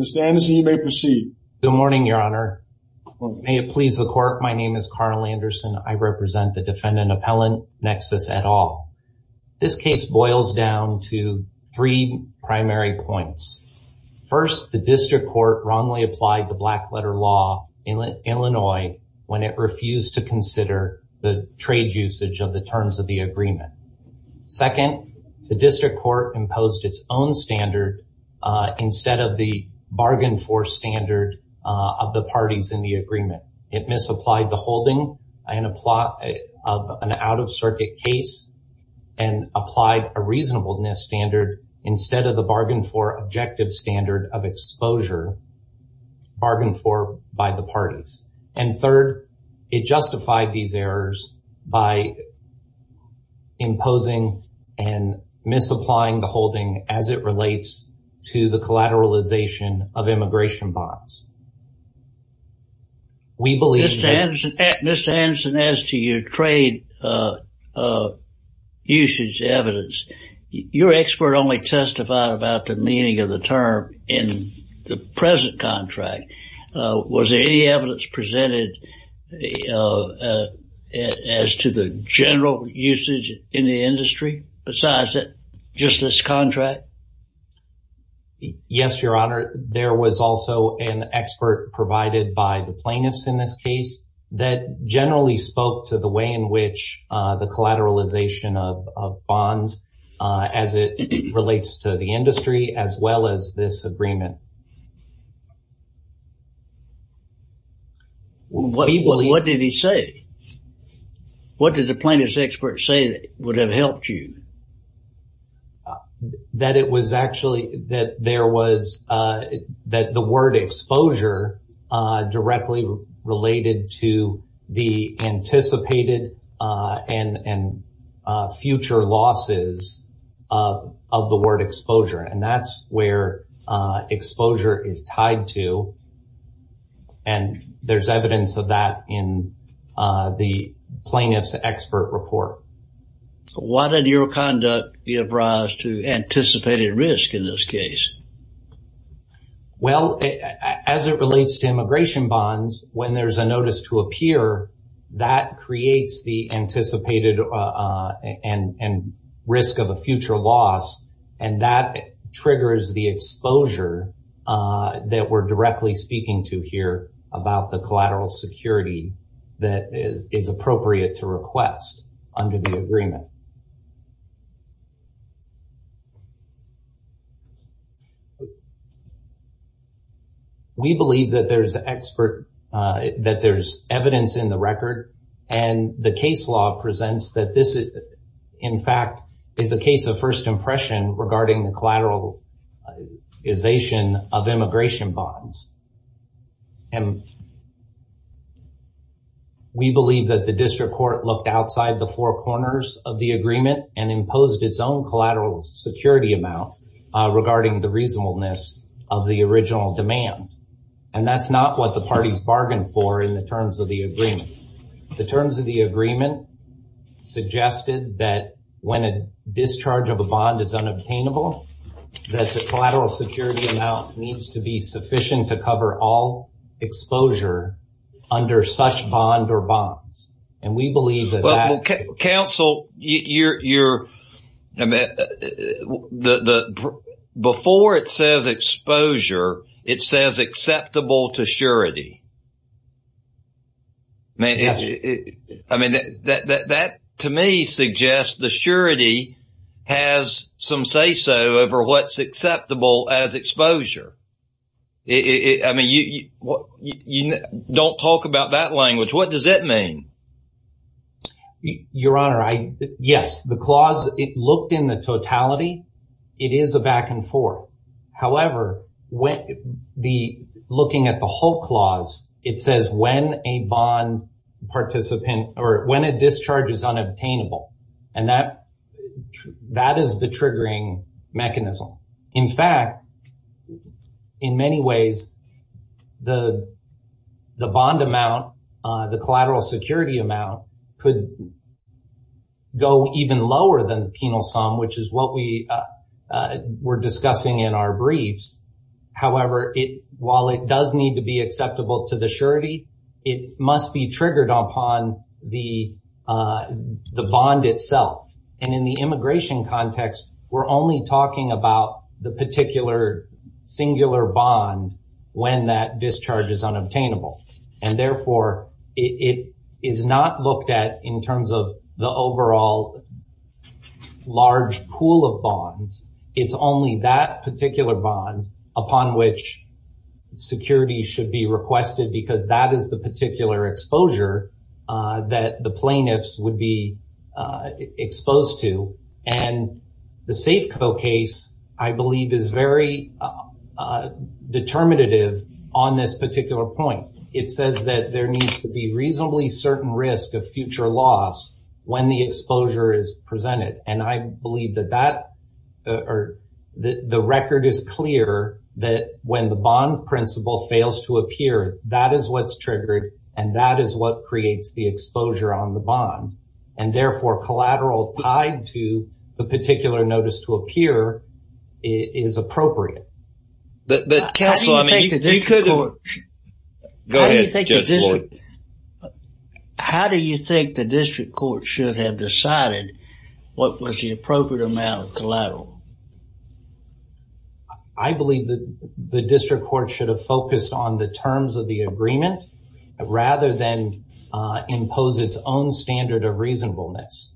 Mr. Anderson, you may proceed. Good morning, Your Honor. May it please the Court, my name is Carl Anderson. I represent the defendant appellant, Nexus, et al. This case boils down to three primary points. First, the district court wrongly applied the black letter law in Illinois when it refused to consider the trade usage of the terms of the agreement. Second, the district court imposed its own standard instead of the bargain for standard of the parties in the agreement. It misapplied the holding of an out-of-circuit case and applied a reasonableness standard instead of the bargain for objective standard of exposure bargained for by the parties. And third, it justified these errors by imposing and misapplying the holding as it relates to the collateralization of immigration bonds. Mr. Anderson, as to your trade usage evidence, your expert only testified about the meaning of the term in the present contract. Was any evidence presented as to the general usage in the industry besides just this contract? Yes, Your Honor. There was also an expert provided by the plaintiffs in this case that generally spoke to the way in which the collateralization of bonds as it relates to the industry as well as this agreement. What did he say? What did the plaintiff's expert say that would have helped you? That it was actually that there was that the word exposure directly related to the anticipated and future losses of the word exposure. And that's where exposure is tied to. And there's evidence of that in the plaintiff's expert report. Why did your conduct give rise to anticipated risk in this case? Well, as it relates to immigration bonds, when there's a notice to appear, that creates the anticipated and risk of a future loss, and that triggers the exposure that we're directly speaking to here about the collateral security that is appropriate to request under the agreement. We believe that there's evidence in the record, and the case law presents that this, in fact, is a case of first impression regarding the collateralization of immigration bonds. And we believe that the district court looked outside the four corners of the agreement and imposed its own collateral security amount regarding the reasonableness of the original demand. And that's not what the parties bargained for in the terms of the agreement. The terms of the agreement suggested that when a discharge of a bond is unobtainable, that the collateral security amount needs to be sufficient to cover all exposure under such bond or bonds. Well, counsel, before it says exposure, it says acceptable to surety. I mean, that to me suggests the surety has some say-so over what's acceptable as exposure. I mean, don't talk about that language. What does that mean? Your Honor, yes, the clause, it looked in the totality. It is a back and forth. However, looking at the whole clause, it says when a bond participant or when a discharge is unobtainable, and that is the triggering mechanism. In fact, in many ways, the bond amount, the collateral security amount, could go even lower than the penal sum, which is what we were discussing in our briefs. However, while it does need to be acceptable to the surety, it must be triggered upon the bond itself. And in the immigration context, we're only talking about the particular singular bond when that discharge is unobtainable. And therefore, it is not looked at in terms of the overall large pool of bonds. It's only that particular bond upon which security should be requested because that is the particular exposure that the plaintiffs would be exposed to. And the Safeco case, I believe, is very determinative on this particular point. It says that there needs to be reasonably certain risk of future loss when the exposure is presented. And I believe that the record is clear that when the bond principle fails to appear, that is what's triggered and that is what creates the exposure on the bond. And therefore, collateral tied to the particular notice to appear is appropriate. How do you think the district court should have decided what was the appropriate amount of collateral? I believe that the district court should have focused on the terms of the agreement rather than impose its own standard of reasonableness.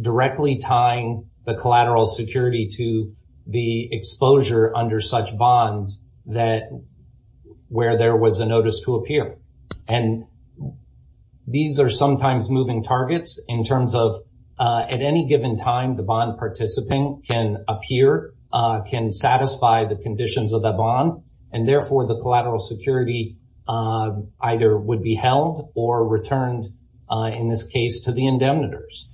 Directly tying the collateral security to the exposure under such bonds where there was a notice to appear. And these are sometimes moving targets in terms of at any given time the bond participant can appear, and therefore the collateral security either would be held or returned, in this case, to the indemnitors.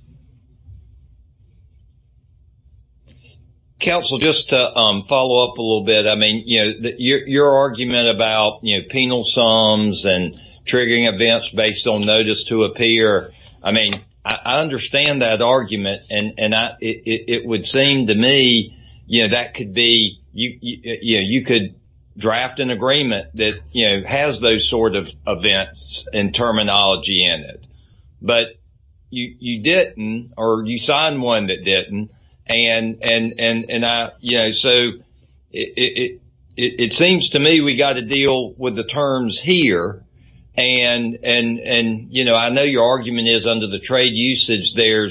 Counsel, just to follow up a little bit, I mean, your argument about penal sums and triggering events based on notice to appear, it would seem to me that you could draft an agreement that has those sort of events and terminology in it. But you didn't, or you signed one that didn't. It seems to me we've got to deal with the terms here. And, you know, I know your argument is under the trade usage, they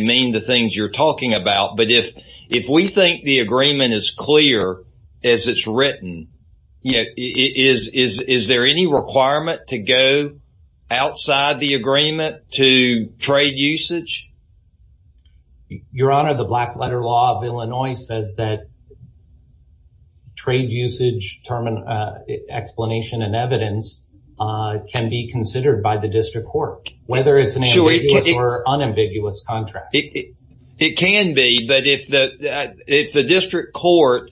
mean the things you're talking about. But if we think the agreement is clear as it's written, is there any requirement to go outside the agreement to trade usage? Your Honor, the Black Letter Law of Illinois says that trade usage explanation and evidence can be considered by the district court, whether it's an ambiguous or unambiguous contract. It can be, but if the district court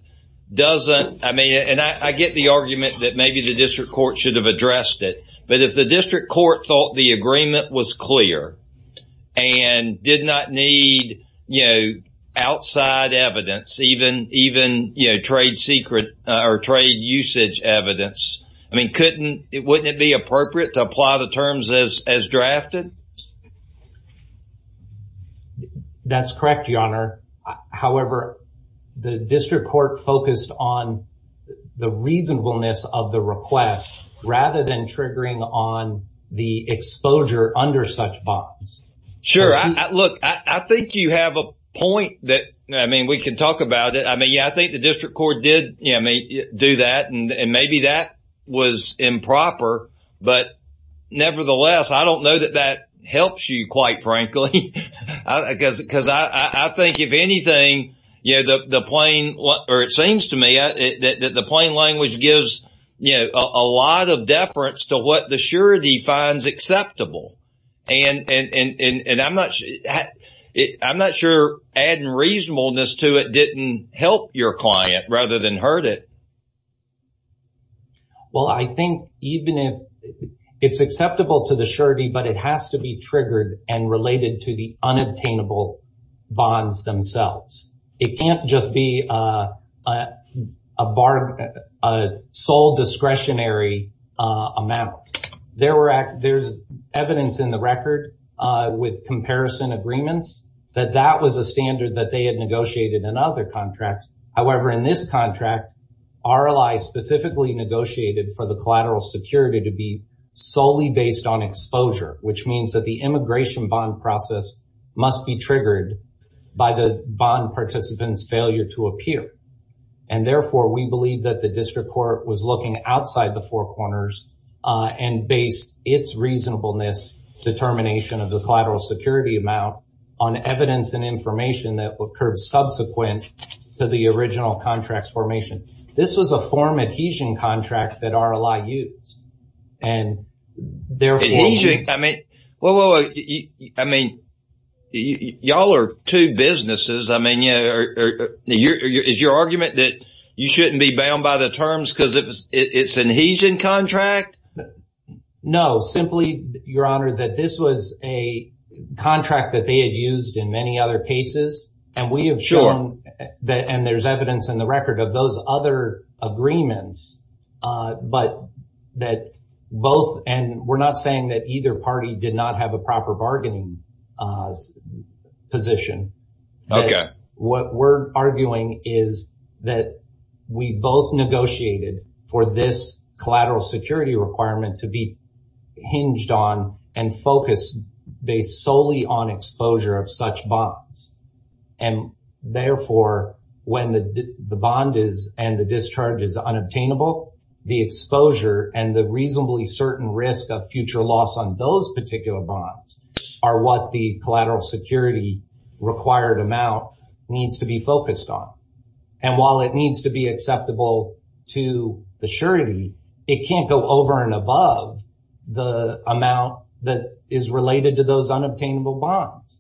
doesn't, I mean, and I get the argument that maybe the district court should have addressed it, but if the district court thought the agreement was clear and did not need, you know, outside evidence, even trade secret or trade usage evidence, I mean, wouldn't it be appropriate to apply the terms as drafted? That's correct, Your Honor. However, the district court focused on the reasonableness of the request rather than triggering on the exposure under such bonds. Sure. Look, I think you have a point that, I mean, we can talk about it. I mean, yeah, I think the district court did do that and maybe that was improper. But nevertheless, I don't know that that helps you, quite frankly, because I think if anything, you know, the plain or it seems to me that the plain language gives, you know, a lot of deference to what the surety finds acceptable. And I'm not sure adding reasonableness to it didn't help your client rather than hurt it. Well, I think even if it's acceptable to the surety, but it has to be triggered and related to the unobtainable bonds themselves. It can't just be a sole discretionary amount. There's evidence in the record with comparison agreements that that was a standard that they had negotiated in other contracts. However, in this contract, RLI specifically negotiated for the collateral security to be solely based on exposure, which means that the immigration bond process must be triggered by the bond participant's failure to appear. And therefore, we believe that the district court was looking outside the four corners and based its reasonableness determination of the collateral security amount on evidence and information that occurred subsequent to the original contract's formation. This was a form adhesion contract that RLI used. Adhesion? I mean, well, I mean, y'all are two businesses. I mean, is your argument that you shouldn't be bound by the terms because it's an adhesion contract? No, simply, Your Honor, that this was a contract that they had used in many other cases. And we have shown that and there's evidence in the record of those other agreements. But that both and we're not saying that either party did not have a proper bargaining position. What we're arguing is that we both negotiated for this collateral security requirement to be hinged on and focused based solely on exposure of such bonds. And therefore, when the bond is and the discharge is unobtainable, the exposure and the reasonably certain risk of future loss on those particular bonds are what the collateral security required amount needs to be focused on. And while it needs to be acceptable to the surety, it can't go over and above the amount that is related to those unobtainable bonds.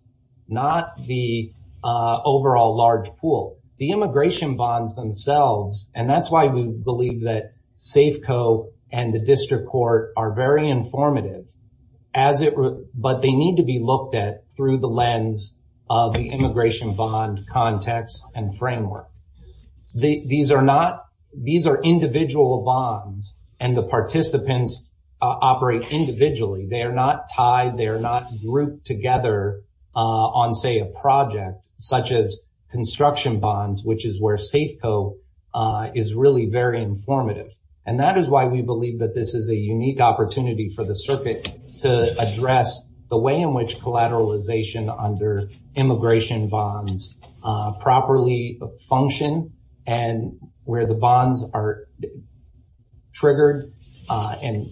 Not the overall large pool, the immigration bonds themselves. And that's why we believe that Safeco and the district court are very informative as it. But they need to be looked at through the lens of the immigration bond context and framework. These are not these are individual bonds and the participants operate individually. They are not tied. They are not grouped together on, say, a project such as construction bonds, which is where Safeco is really very informative. And that is why we believe that this is a unique opportunity for the circuit to address the way in which collateralization under immigration bonds properly function. And where the bonds are triggered and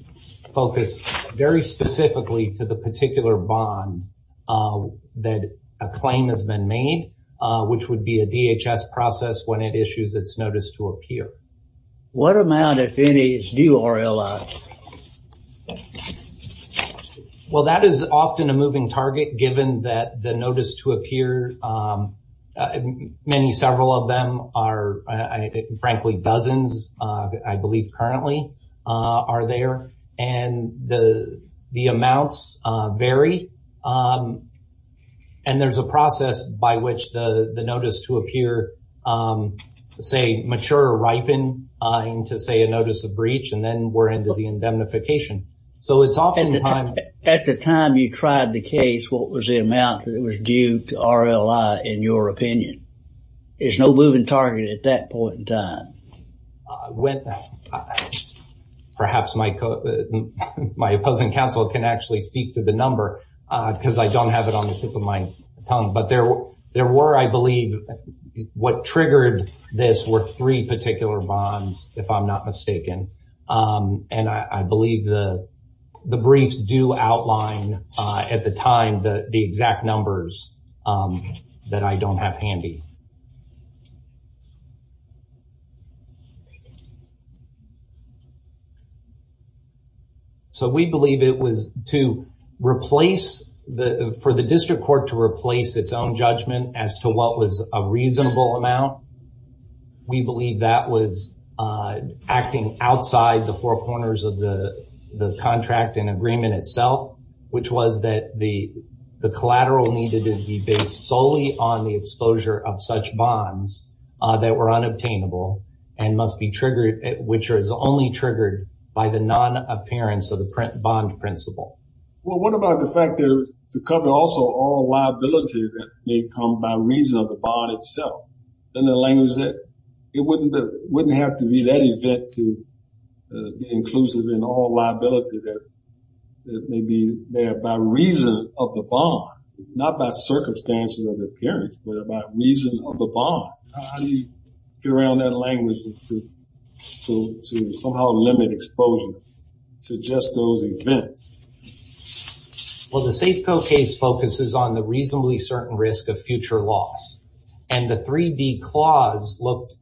focused very specifically to the particular bond that a claim has been made, which would be a DHS process when it issues its notice to appear. What amount, if any, is due RLI? Well, that is often a moving target, given that the notice to appear, many, several of them are, frankly, dozens, I believe, currently are there. And the amounts vary. And there's a process by which the notice to appear, say, mature, ripen into, say, a notice of breach. And then we're into the indemnification. At the time you tried the case, what was the amount that was due to RLI, in your opinion? There's no moving target at that point in time. Perhaps my opposing counsel can actually speak to the number because I don't have it on the tip of my tongue. But there were, I believe, what triggered this were three particular bonds, if I'm not mistaken. And I believe the briefs do outline, at the time, the exact numbers that I don't have handy. So we believe it was to replace, for the district court to replace its own judgment as to what was a reasonable amount. We believe that was acting outside the four corners of the contract and agreement itself, which was that the collateral needed to be based solely on the exposure of such bonds that were unobtainable and must be triggered, which was only triggered by the non-appearance of the bond principle. Well, what about the fact that to cover also all liability that may come by reason of the bond itself? In the language that it wouldn't have to be that event to be inclusive in all liability that may be there by reason of the bond, not by circumstances of appearance, but by reason of the bond. How do you get around that language to somehow limit exposure to just those events? Well, the Safeco case focuses on the reasonably certain risk of future loss. And the 3D clause looked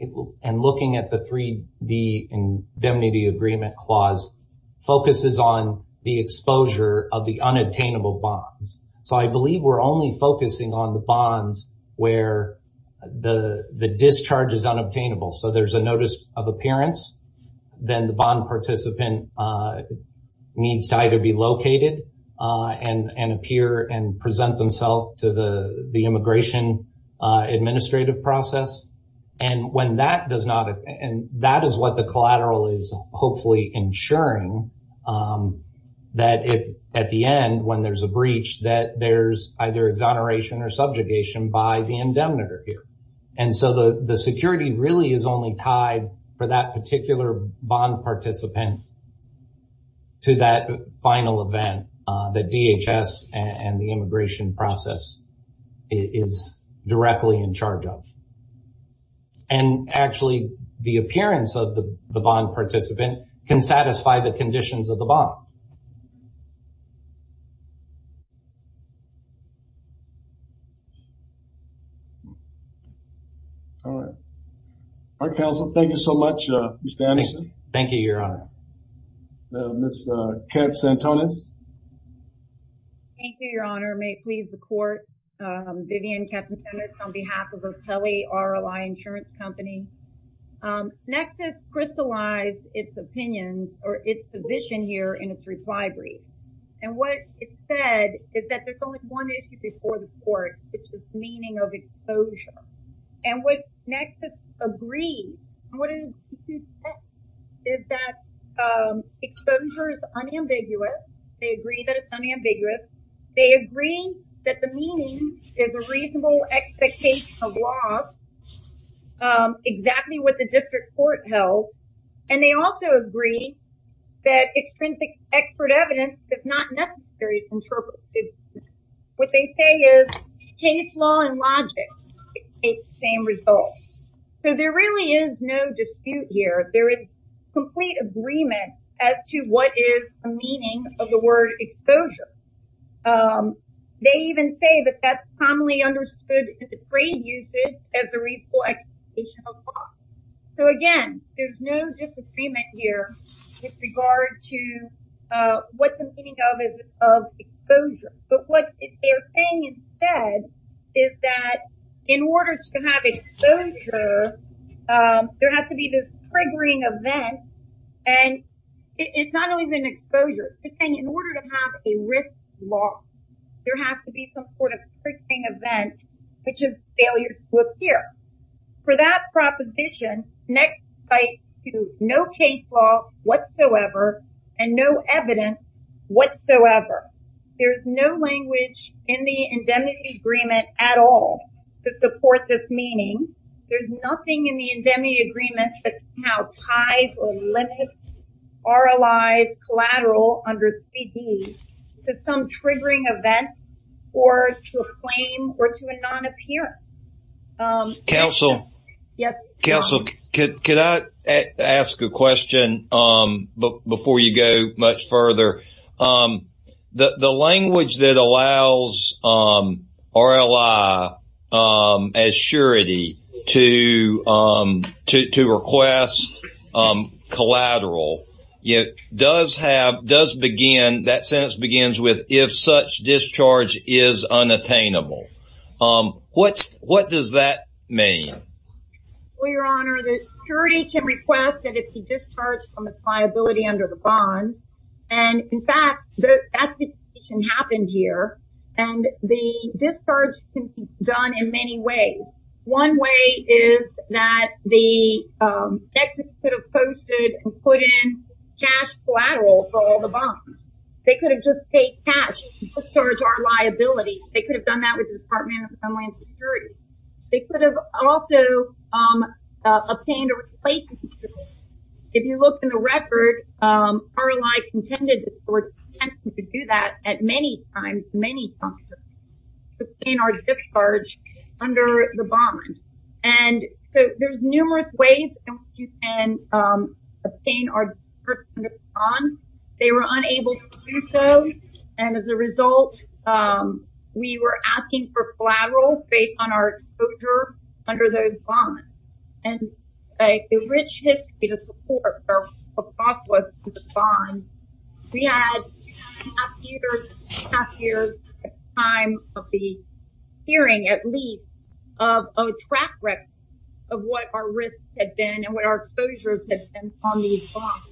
and looking at the 3D indemnity agreement clause focuses on the exposure of the unobtainable bonds. So I believe we're only focusing on the bonds where the discharge is unobtainable. So there's a notice of appearance. Then the bond participant needs to either be located and appear and present themselves to the immigration administrative process. And when that does not, and that is what the collateral is hopefully ensuring that at the end, when there's a breach, that there's either exoneration or subjugation by the indemnitor here. And so the security really is only tied for that particular bond participant to that final event that DHS and the immigration process is directly in charge of. And actually the appearance of the bond participant can satisfy the conditions of the bond. All right. All right, counsel. Thank you so much. Ms. Anderson. Thank you, Your Honor. Ms. Katz-Antones. Thank you, Your Honor. May it please the court. Vivian Katz-Antones on behalf of O'Kelly RLI Insurance Company. Nexus crystallized its opinion or its position here in its reply brief. And what it said is that there's only one issue before the court. It's the meaning of exposure. And what Nexus agrees, what it says is that exposure is unambiguous. They agree that it's unambiguous. They agree that the meaning is a reasonable expectation of loss, exactly what the district court held. And they also agree that extrinsic expert evidence is not necessary to interpret. What they say is case law and logic take the same result. So there really is no dispute here. There is complete agreement as to what is the meaning of the word exposure. They even say that that's commonly understood in the trade usage as a reasonable expectation of loss. So again, there's no disagreement here with regard to what the meaning of exposure. But what they're saying instead is that in order to have exposure, there has to be this triggering event. And it's not only an exposure. It's saying in order to have a risk loss, there has to be some sort of triggering event, which is failure to appear. For that proposition, Nexus cites no case law whatsoever and no evidence whatsoever. There's no language in the indemnity agreement at all to support this meaning. There's nothing in the indemnity agreement that somehow ties or limits RLIs collateral under CD to some triggering event or to a claim or to a non-appearance. Council, could I ask a question before you go much further? The language that allows RLI as surety to request collateral, that sentence begins with if such discharge is unattainable. What does that mean? Well, Your Honor, the surety can request that it be discharged from its liability under the bond. And in fact, the application happened here. And the discharge can be done in many ways. One way is that the Nexus could have posted and put in cash collateral for all the bonds. They could have just paid cash to discharge our liability. The Department of Homeland Security. They could have also obtained a replacement. If you look in the record, RLI contended to do that at many times, many times, to sustain our discharge under the bond. And so there's numerous ways in which you can sustain our discharge under the bond. They were unable to do so. And as a result, we were asking for collateral based on our exposure under those bonds. And a rich history to support our process with the bonds. We had half years at the time of the hearing, at least, of a track record of what our risks had been and what our exposures had been on these bonds.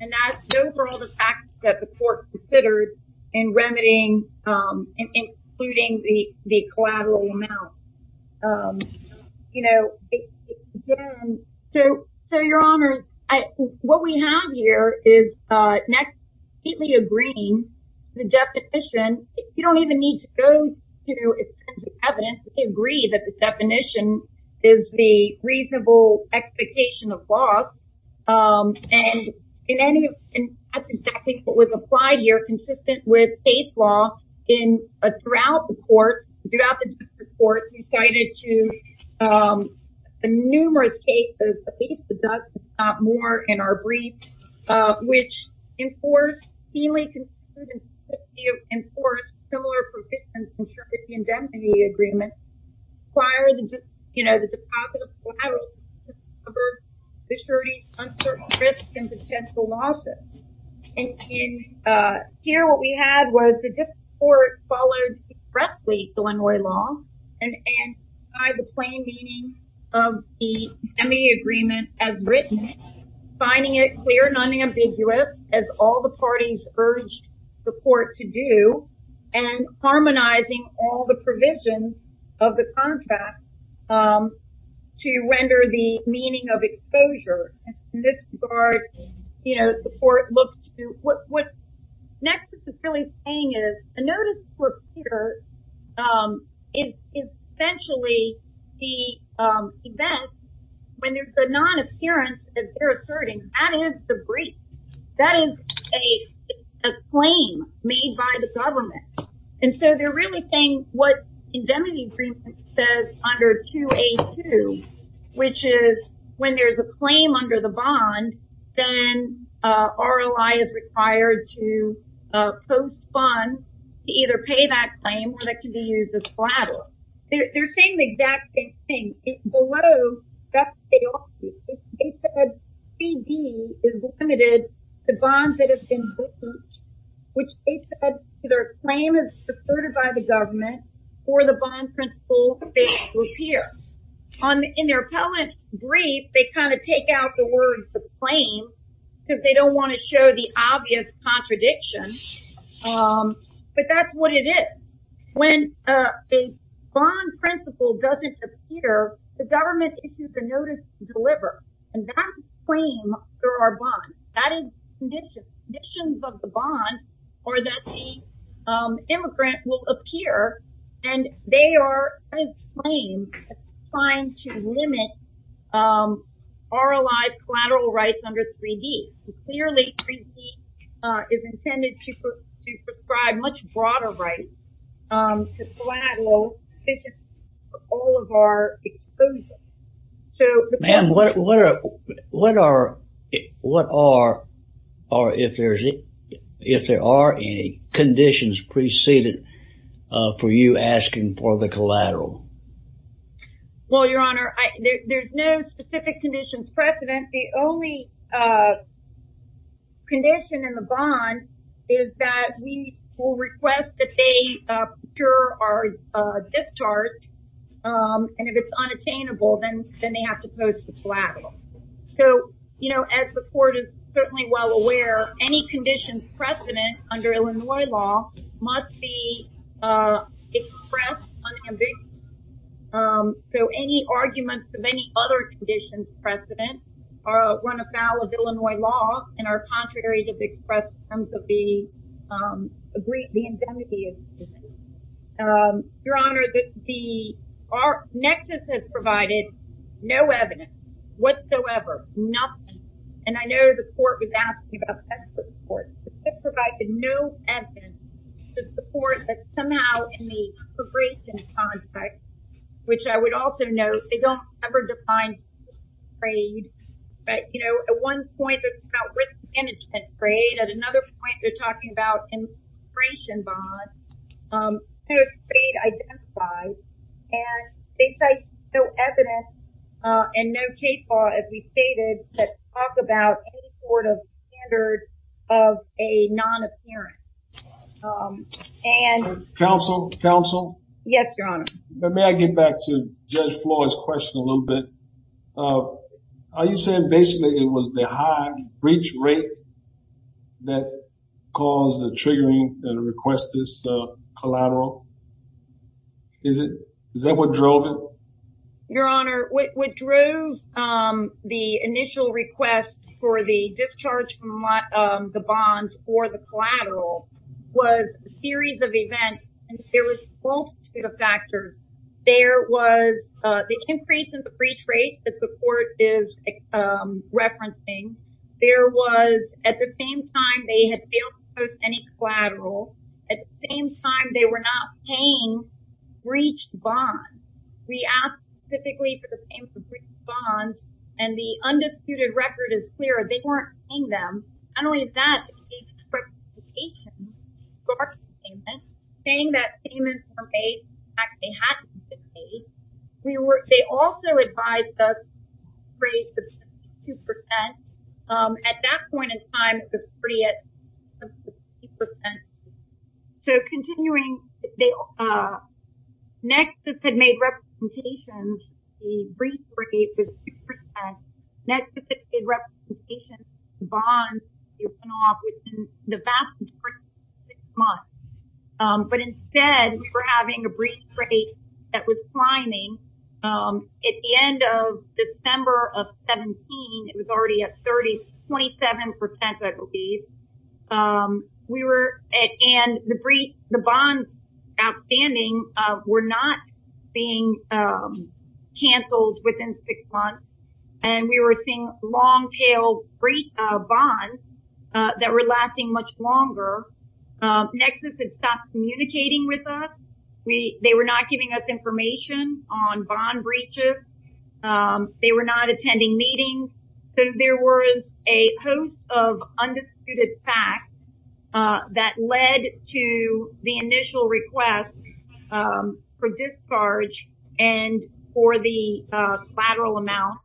And that's known for all the facts that the court considered in remedying, including the collateral amount. You know, so, your Honor, what we have here is Nexus completely agreeing the definition. You don't even need to go to the evidence to agree that the definition is the reasonable expectation of loss. And in any, and that's exactly what was applied here, consistent with case law in, throughout the court, throughout the district court. We cited to numerous cases, at least the Dustin Stott Moore in our brief, which enforced, enforced similar persistence in certificate indemnity agreements prior to, you know, the deposit of collateral, to discover the surety of uncertain risks and potential losses. And here, what we had was the district court followed expressly Illinois law, and by the plain meaning of the semi-agreement as written, finding it clear and unambiguous as all the parties urged the court to do, and harmonizing all the provisions of the contract to render the meaning of exposure. And in this regard, you know, the court looked to, what Nexus is really saying is, a notice to appear is essentially the event, when there's a non-appearance, as they're asserting, that is the brief. That is a claim made by the government. And so they're really saying what indemnity agreement says under 2A2, which is when there's a claim under the bond, then ROI is required to postpone to either pay that claim or that can be used as collateral. They're saying the exact same thing. Below, that's chaotic. They said 3D is limited to bonds that have been booked, which they said either a claim is asserted by the government or the bond principal fails to appear. In their appellant brief, they kind of take out the words, the claim, because they don't want to show the obvious contradiction. But that's what it is. When a bond principal doesn't appear, the government issues a notice to deliver. And that's a claim for our bond. That is conditions of the bond, or that the immigrant will appear, and they are, as claimed, trying to limit ROI collateral rights under 3D. Clearly, 3D is intended to prescribe much broader rights to collateral for all of our exposure. Ma'am, what are, if there are any conditions preceded for you asking for the collateral? Well, Your Honor, there's no specific conditions precedent. The only condition in the bond is that we will request that they procure our discharge. And if it's unattainable, then they have to post the collateral. So, you know, as the Court is certainly well aware, any conditions precedent under Illinois law must be expressed unambiguously. So any arguments of any other conditions precedent run afoul of Illinois law and are contrary to the express terms of the Indemnity Agreement. Your Honor, the Nexus has provided no evidence whatsoever, nothing. And I know the Court was asking about the Expert Report. It provided no evidence to support that somehow in the integration contract, which I would also note, they don't ever define trade. But, you know, at one point, it's about risk management trade. At another point, they're talking about integration bonds. There's trade identified. And they cite no evidence and no case law, as we stated, that talk about any sort of standard of a non-appearance. Counsel? Counsel? Yes, Your Honor. May I get back to Judge Floyd's question a little bit? Are you saying basically it was the high breach rate that caused the triggering and request this collateral? Is that what drove it? Your Honor, what drove the initial request for the discharge from the bond or the collateral was a series of events. And there was multiple factors. There was the increase in the breach rate that the Court is referencing. There was, at the same time, they had failed to post any collateral. At the same time, they were not paying breached bonds. We asked specifically for the payment of breached bonds. And the undisputed record is clear. They weren't paying them. Not only that, they gave us a justification for our payment, saying that payments were made. In fact, they had to be paid. They also advised us for a rate of 62%. At that point in time, it was pretty at 62%. So, continuing, next, this had made representations, the breach rate was 2%. Next, this had made representations to bonds within the vast majority of six months. But instead, we were having a breach rate that was climbing. At the end of December of 2017, it was already at 37%, I believe. We were at, and the breach, the bonds outstanding were not being canceled within six months. And we were seeing long-tailed breach bonds that were lasting much longer. Next, this had stopped communicating with us. They were not giving us information on bond breaches. They were not attending meetings. So, there was a host of undisputed facts that led to the initial request for discharge and for the collateral amount.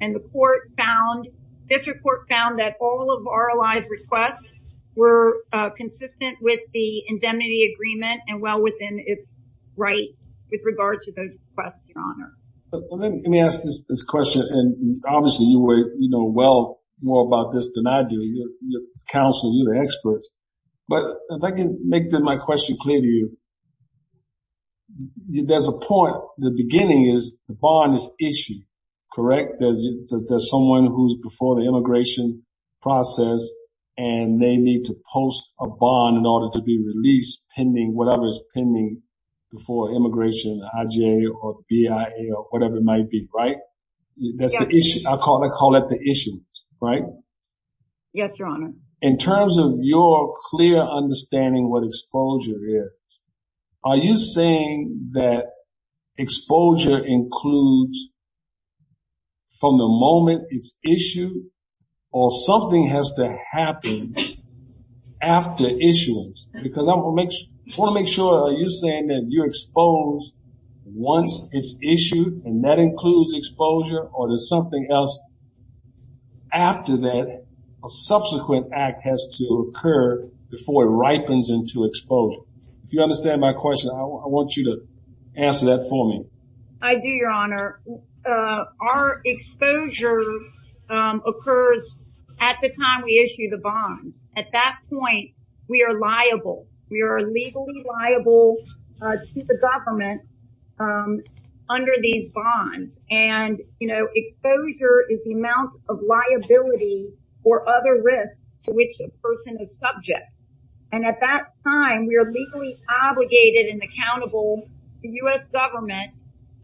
And the court found, this report found that all of ROI's requests were consistent with the indemnity agreement and well within its rights with regard to those requests, Your Honor. Let me ask this question. And obviously, you know well more about this than I do. You're counsel, you're the experts. But if I can make my question clear to you, there's a point, the beginning is the bond is issued, correct? There's someone who's before the immigration process and they need to post a bond in order to be released pending, whatever is pending before immigration, IGA or BIA or whatever it might be, right? That's the issue. I call that the issue, right? Yes, Your Honor. In terms of your clear understanding what exposure is, are you saying that exposure includes from the moment it's issued or something has to happen after issuance? Because I want to make sure, are you saying that you're exposed once it's issued and that includes exposure or there's something else after that, a subsequent act has to occur before it ripens into exposure? If you understand my question, I want you to answer that for me. I do, Your Honor. Our exposure occurs at the time we issue the bond. At that point, we are liable. We are legally liable to the government under these bonds. And exposure is the amount of liability or other risks to which a person is subject. And at that time, we are legally obligated and accountable to U.S. government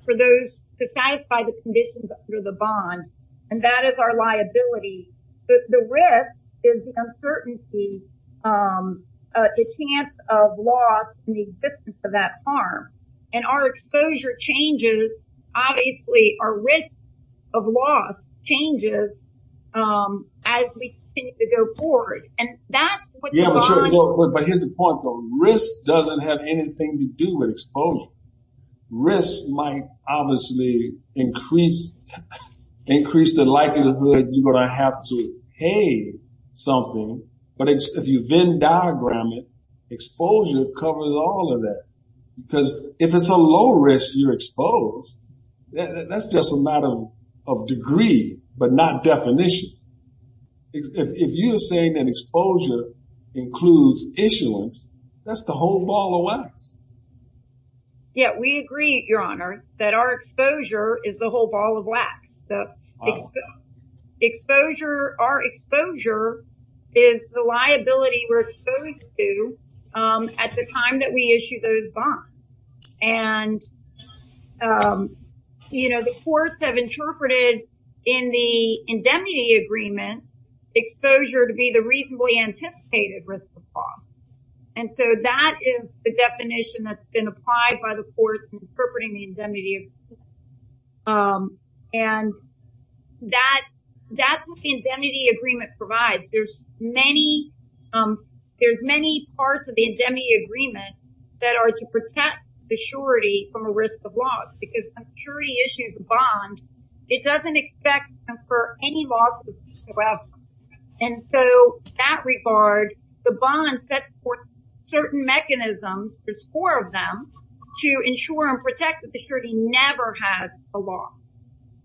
for those to satisfy the conditions under the bond. And that is our liability. The risk is an uncertainty, a chance of loss in the existence of that farm. And our exposure changes. Obviously, our risk of loss changes as we continue to go forward. And that's what the bond… Risk doesn't have anything to do with exposure. Risk might obviously increase the likelihood you're going to have to pay something. But if you Venn diagram it, exposure covers all of that. Because if it's a low risk, you're exposed. That's just a matter of degree, but not definition. If you're saying that exposure includes issuance, that's the whole ball of wax. Yeah, we agree, Your Honor, that our exposure is the whole ball of wax. Exposure, our exposure is the liability we're exposed to at the time that we issue those bonds. And, you know, the courts have interpreted in the indemnity agreement, exposure to be the reasonably anticipated risk of loss. And so that is the definition that's been applied by the courts in interpreting the indemnity agreement. And that's what the indemnity agreement provides. There's many parts of the indemnity agreement that are to protect the surety from a risk of loss. Because when a surety issues a bond, it doesn't expect to confer any loss of risk of loss. And so in that regard, the bond sets forth certain mechanisms, there's four of them, to ensure and protect that the surety never has a loss.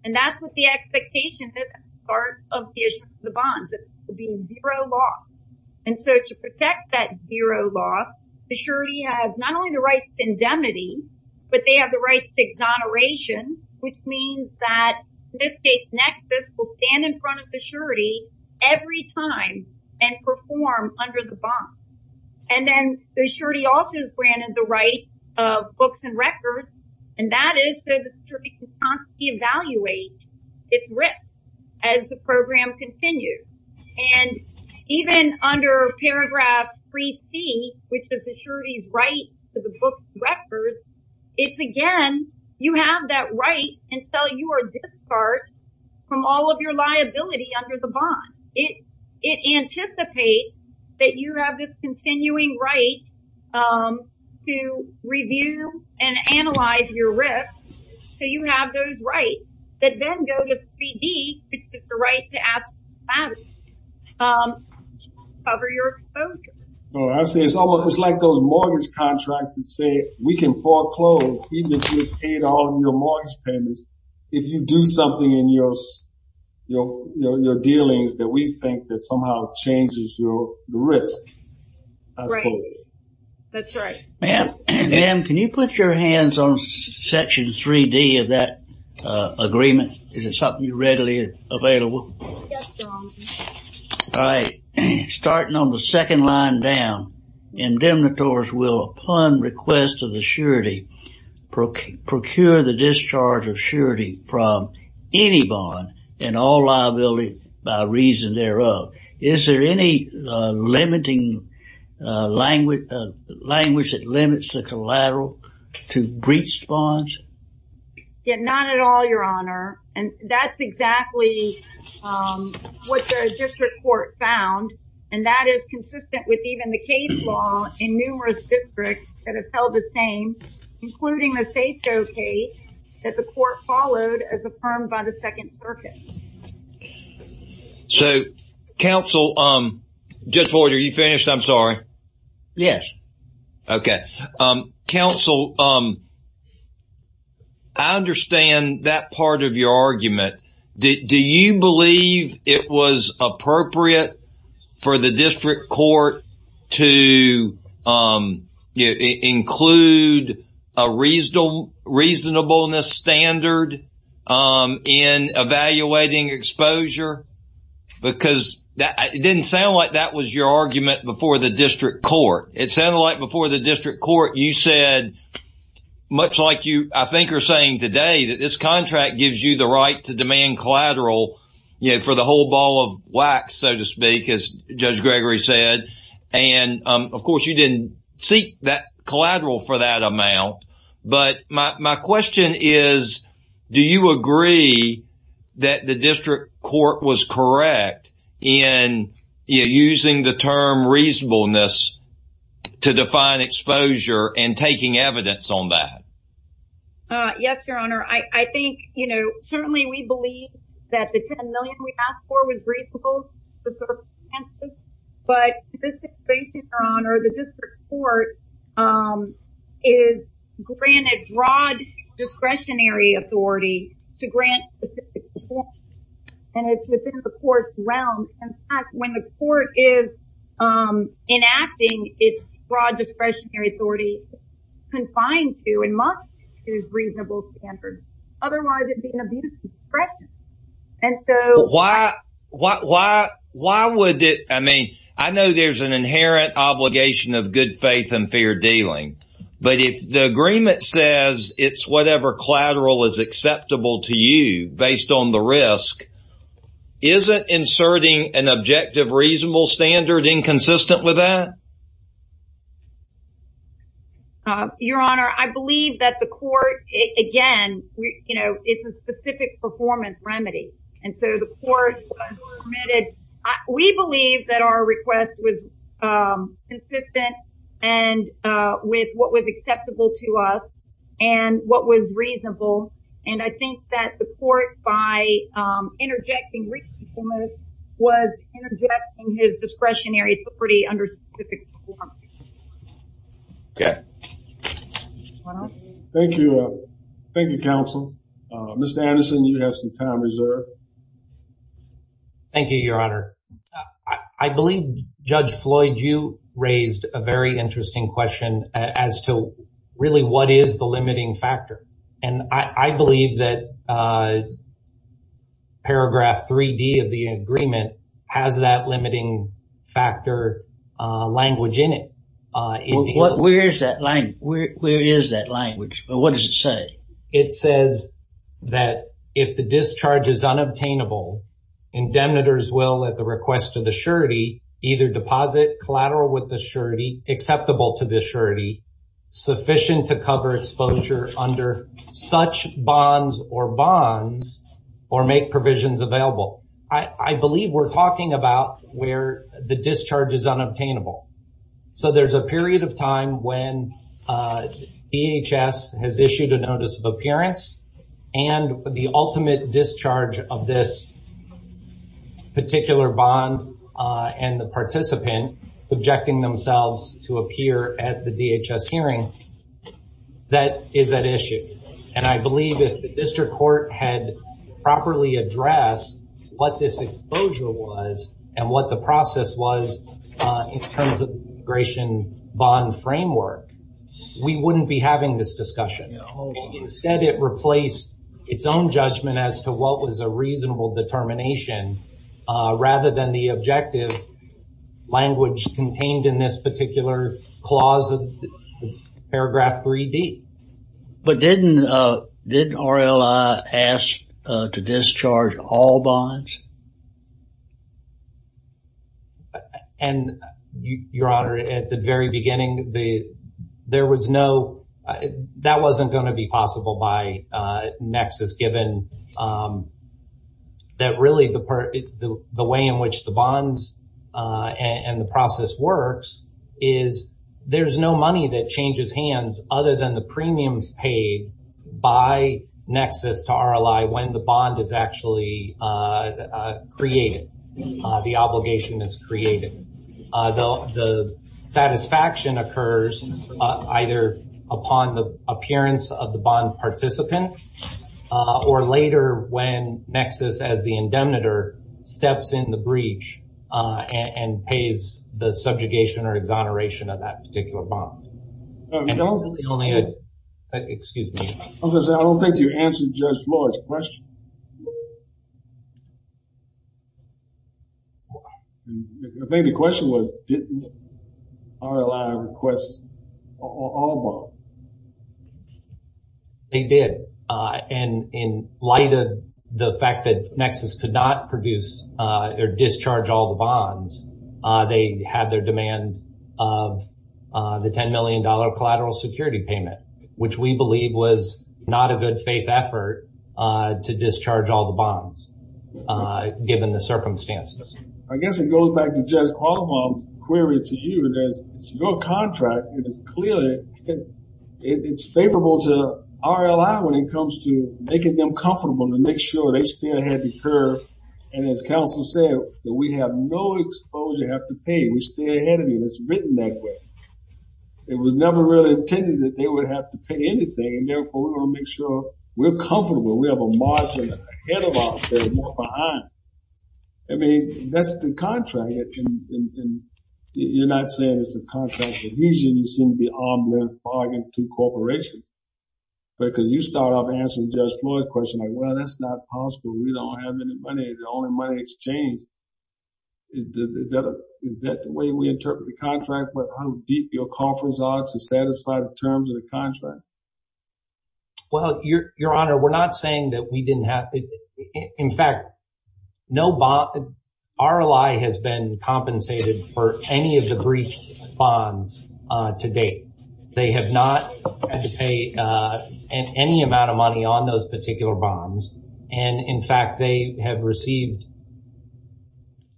And that's what the expectation is at the start of the issuance of the bonds, is to be zero loss. And so to protect that zero loss, the surety has not only the right to indemnity, but they have the right to exoneration, which means that in this case, Nexus will stand in front of the surety every time and perform under the bond. And then the surety also is granted the right of books and records, and that is so the surety can evaluate its risk as the program continues. And even under paragraph 3C, which is the surety's right to the books and records, it's again, you have that right until you are discarded from all of your liability under the bond. It anticipates that you have this continuing right to review and analyze your risk, so you have those rights, that then go to 3D, which is the right to ask, cover your exposure. It's like those mortgage contracts that say, we can foreclose, even if you've paid all of your mortgage payments, if you do something in your dealings that we think that somehow changes your risk. Right. That's right. Ma'am, can you put your hands on section 3D of that agreement? Is it something readily available? Yes, John. All right. Starting on the second line down, indemnitors will, upon request of the surety, procure the discharge of surety from any bond and all liability by reason thereof. Is there any limiting language that limits the collateral to breached bonds? Not at all, Your Honor. That's exactly what the district court found, and that is consistent with even the case law in numerous districts that have held the same, including the Safeco case that the court followed as affirmed by the Second Circuit. So, counsel, Judge Hoard, are you finished? I'm sorry. Yes. Okay. Counsel, I understand that part of your argument. Do you believe it was appropriate for the district court to include a reasonableness standard in evaluating exposure? Because it didn't sound like that was your argument before the district court. It sounded like before the district court, you said, much like you, I think, are saying today, that this contract gives you the right to demand collateral for the whole ball of wax, so to speak, as Judge Gregory said. And, of course, you didn't seek that collateral for that amount. But my question is, do you agree that the district court was correct in using the term reasonableness to define exposure and taking evidence on that? Yes, Your Honor. I think, you know, certainly we believe that the $10 million we asked for was reasonable to serve Kansas. But this situation, Your Honor, the district court is granted broad discretionary authority to grant specific exposure. And it's within the court's realm. In fact, when the court is enacting its broad discretionary authority, it's confined to and must use reasonable standards. Otherwise, it'd be an abuse of discretion. And so... Why would it... I mean, I know there's an inherent obligation of good faith and fair dealing. But if the agreement says it's whatever collateral is acceptable to you based on the risk, isn't inserting an objective reasonable standard inconsistent with that? Your Honor, I believe that the court, again, you know, it's a specific performance remedy. And so the court permitted... We believe that our request was consistent and with what was acceptable to us and what was reasonable. And I think that the court, by interjecting reasonableness, was interjecting his discretionary authority under specific performance. Okay. Thank you. Thank you, counsel. Mr. Anderson, you have some time reserved. Thank you, Your Honor. I believe Judge Floyd, you raised a very interesting question as to really what is the limiting factor. And I believe that paragraph 3D of the agreement has that limiting factor language in it. Where is that language? What does it say? It says that if the discharge is unobtainable, indemnitors will, at the request of the surety, either deposit collateral with the surety, acceptable to the surety, sufficient to cover exposure under such bonds or bonds or make provisions available. I believe we're talking about where the discharge is unobtainable. So there's a period of time when DHS has issued a notice of appearance and the ultimate discharge of this particular bond and the participant subjecting themselves to appear at the DHS hearing, that is at issue. And I believe if the district court had properly addressed what this exposure was and what the process was in terms of the integration bond framework, we wouldn't be having this discussion. Instead, it replaced its own judgment as to what was a reasonable determination rather than the objective language contained in this particular clause of paragraph 3D. But didn't RLI ask to discharge all bonds? And, Your Honor, at the very beginning, there was no, that wasn't going to be possible by nexus given that really the way in which the bonds and the process works is there's no money that changes hands other than the premiums paid by nexus to RLI when the bond is actually created, the obligation is created. The satisfaction occurs either upon the appearance of the bond participant or later when nexus, as the indemnitor, steps in the breach and pays the subjugation or exoneration of that particular bond. Excuse me. I don't think you answered Judge Floyd's question. I think the question was, didn't RLI request all bonds? They did. And in light of the fact that nexus could not produce or discharge all the bonds, they had their demand of the $10 million collateral security payment, which we believe was not a good faith effort to discharge all the bonds given the circumstances. I guess it goes back to Judge Qualamon's query to you. It's your contract, and it's clearly, it's favorable to RLI when it comes to making them comfortable to make sure they stay ahead of the curve. And as counsel said, we have no exposure to have to pay. We stay ahead of you. It's written that way. It was never really intended that they would have to pay anything, and therefore we're going to make sure we're comfortable. We have a margin ahead of us. There's more behind. I mean, that's the contract. You're not saying it's a contract, but usually you seem to be arm-lift bargain to corporations. Because you start off answering Judge Floyd's question, like, well, that's not possible. We don't have any money. It's the only money exchange. Is that the way we interpret the contract? How deep your coffers are to satisfy the terms of the contract? Well, Your Honor, we're not saying that we didn't have... In fact, no bond... RLI has been compensated for any of the breached bonds to date. They have not had to pay any money on those particular bonds. And in fact, they have received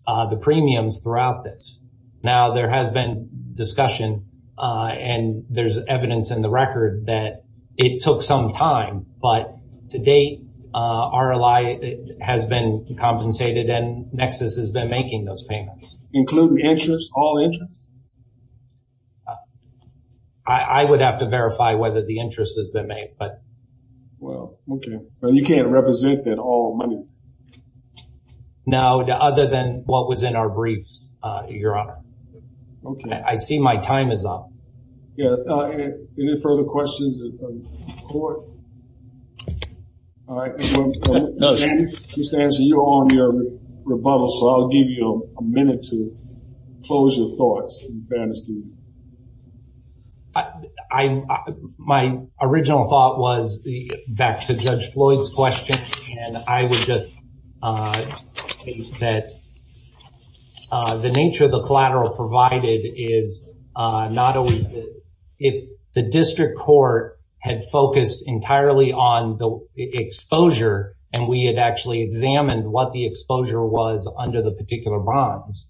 the premiums throughout this. Now, there has been discussion, and there's evidence in the record that it took some time, but to date, RLI has been compensated, and Nexus has been making those payments. Including interest? All interest? I would have to verify whether the interest has been made, but... Okay. But you can't represent that all money? No, other than what was in our briefs, Your Honor. I see my time is up. Yes. Any further questions of the court? All right. Mr. Stanton, you're on your rebuttal, so I'll give you a minute to close your thoughts. My original thought was back to Judge Floyd's question, and I would just say that the nature of the collateral provided is not always good. If the district court had focused entirely on the exposure, and we had actually examined what the exposure was under the particular bonds,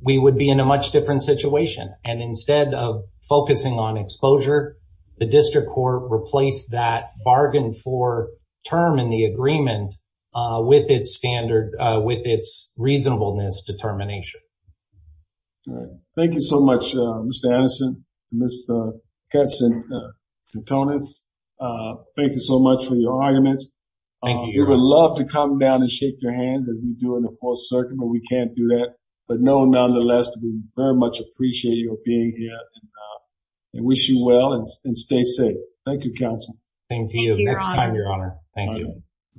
we would be in a much different situation. And instead of focusing on exposure, the district court replaced that bargain for term in the agreement with its standard, with its reasonableness determination. All right. Thank you so much, Mr. Anderson, Mr. Katz and Antonis. Thank you so much for your arguments. Thank you, Your Honor. We would love to come down and shake your hands as we do in the Fourth Circuit, but we can't do that. But nonetheless, we very much appreciate you being here and wish you well and stay safe. Thank you, counsel. Thank you, Your Honor.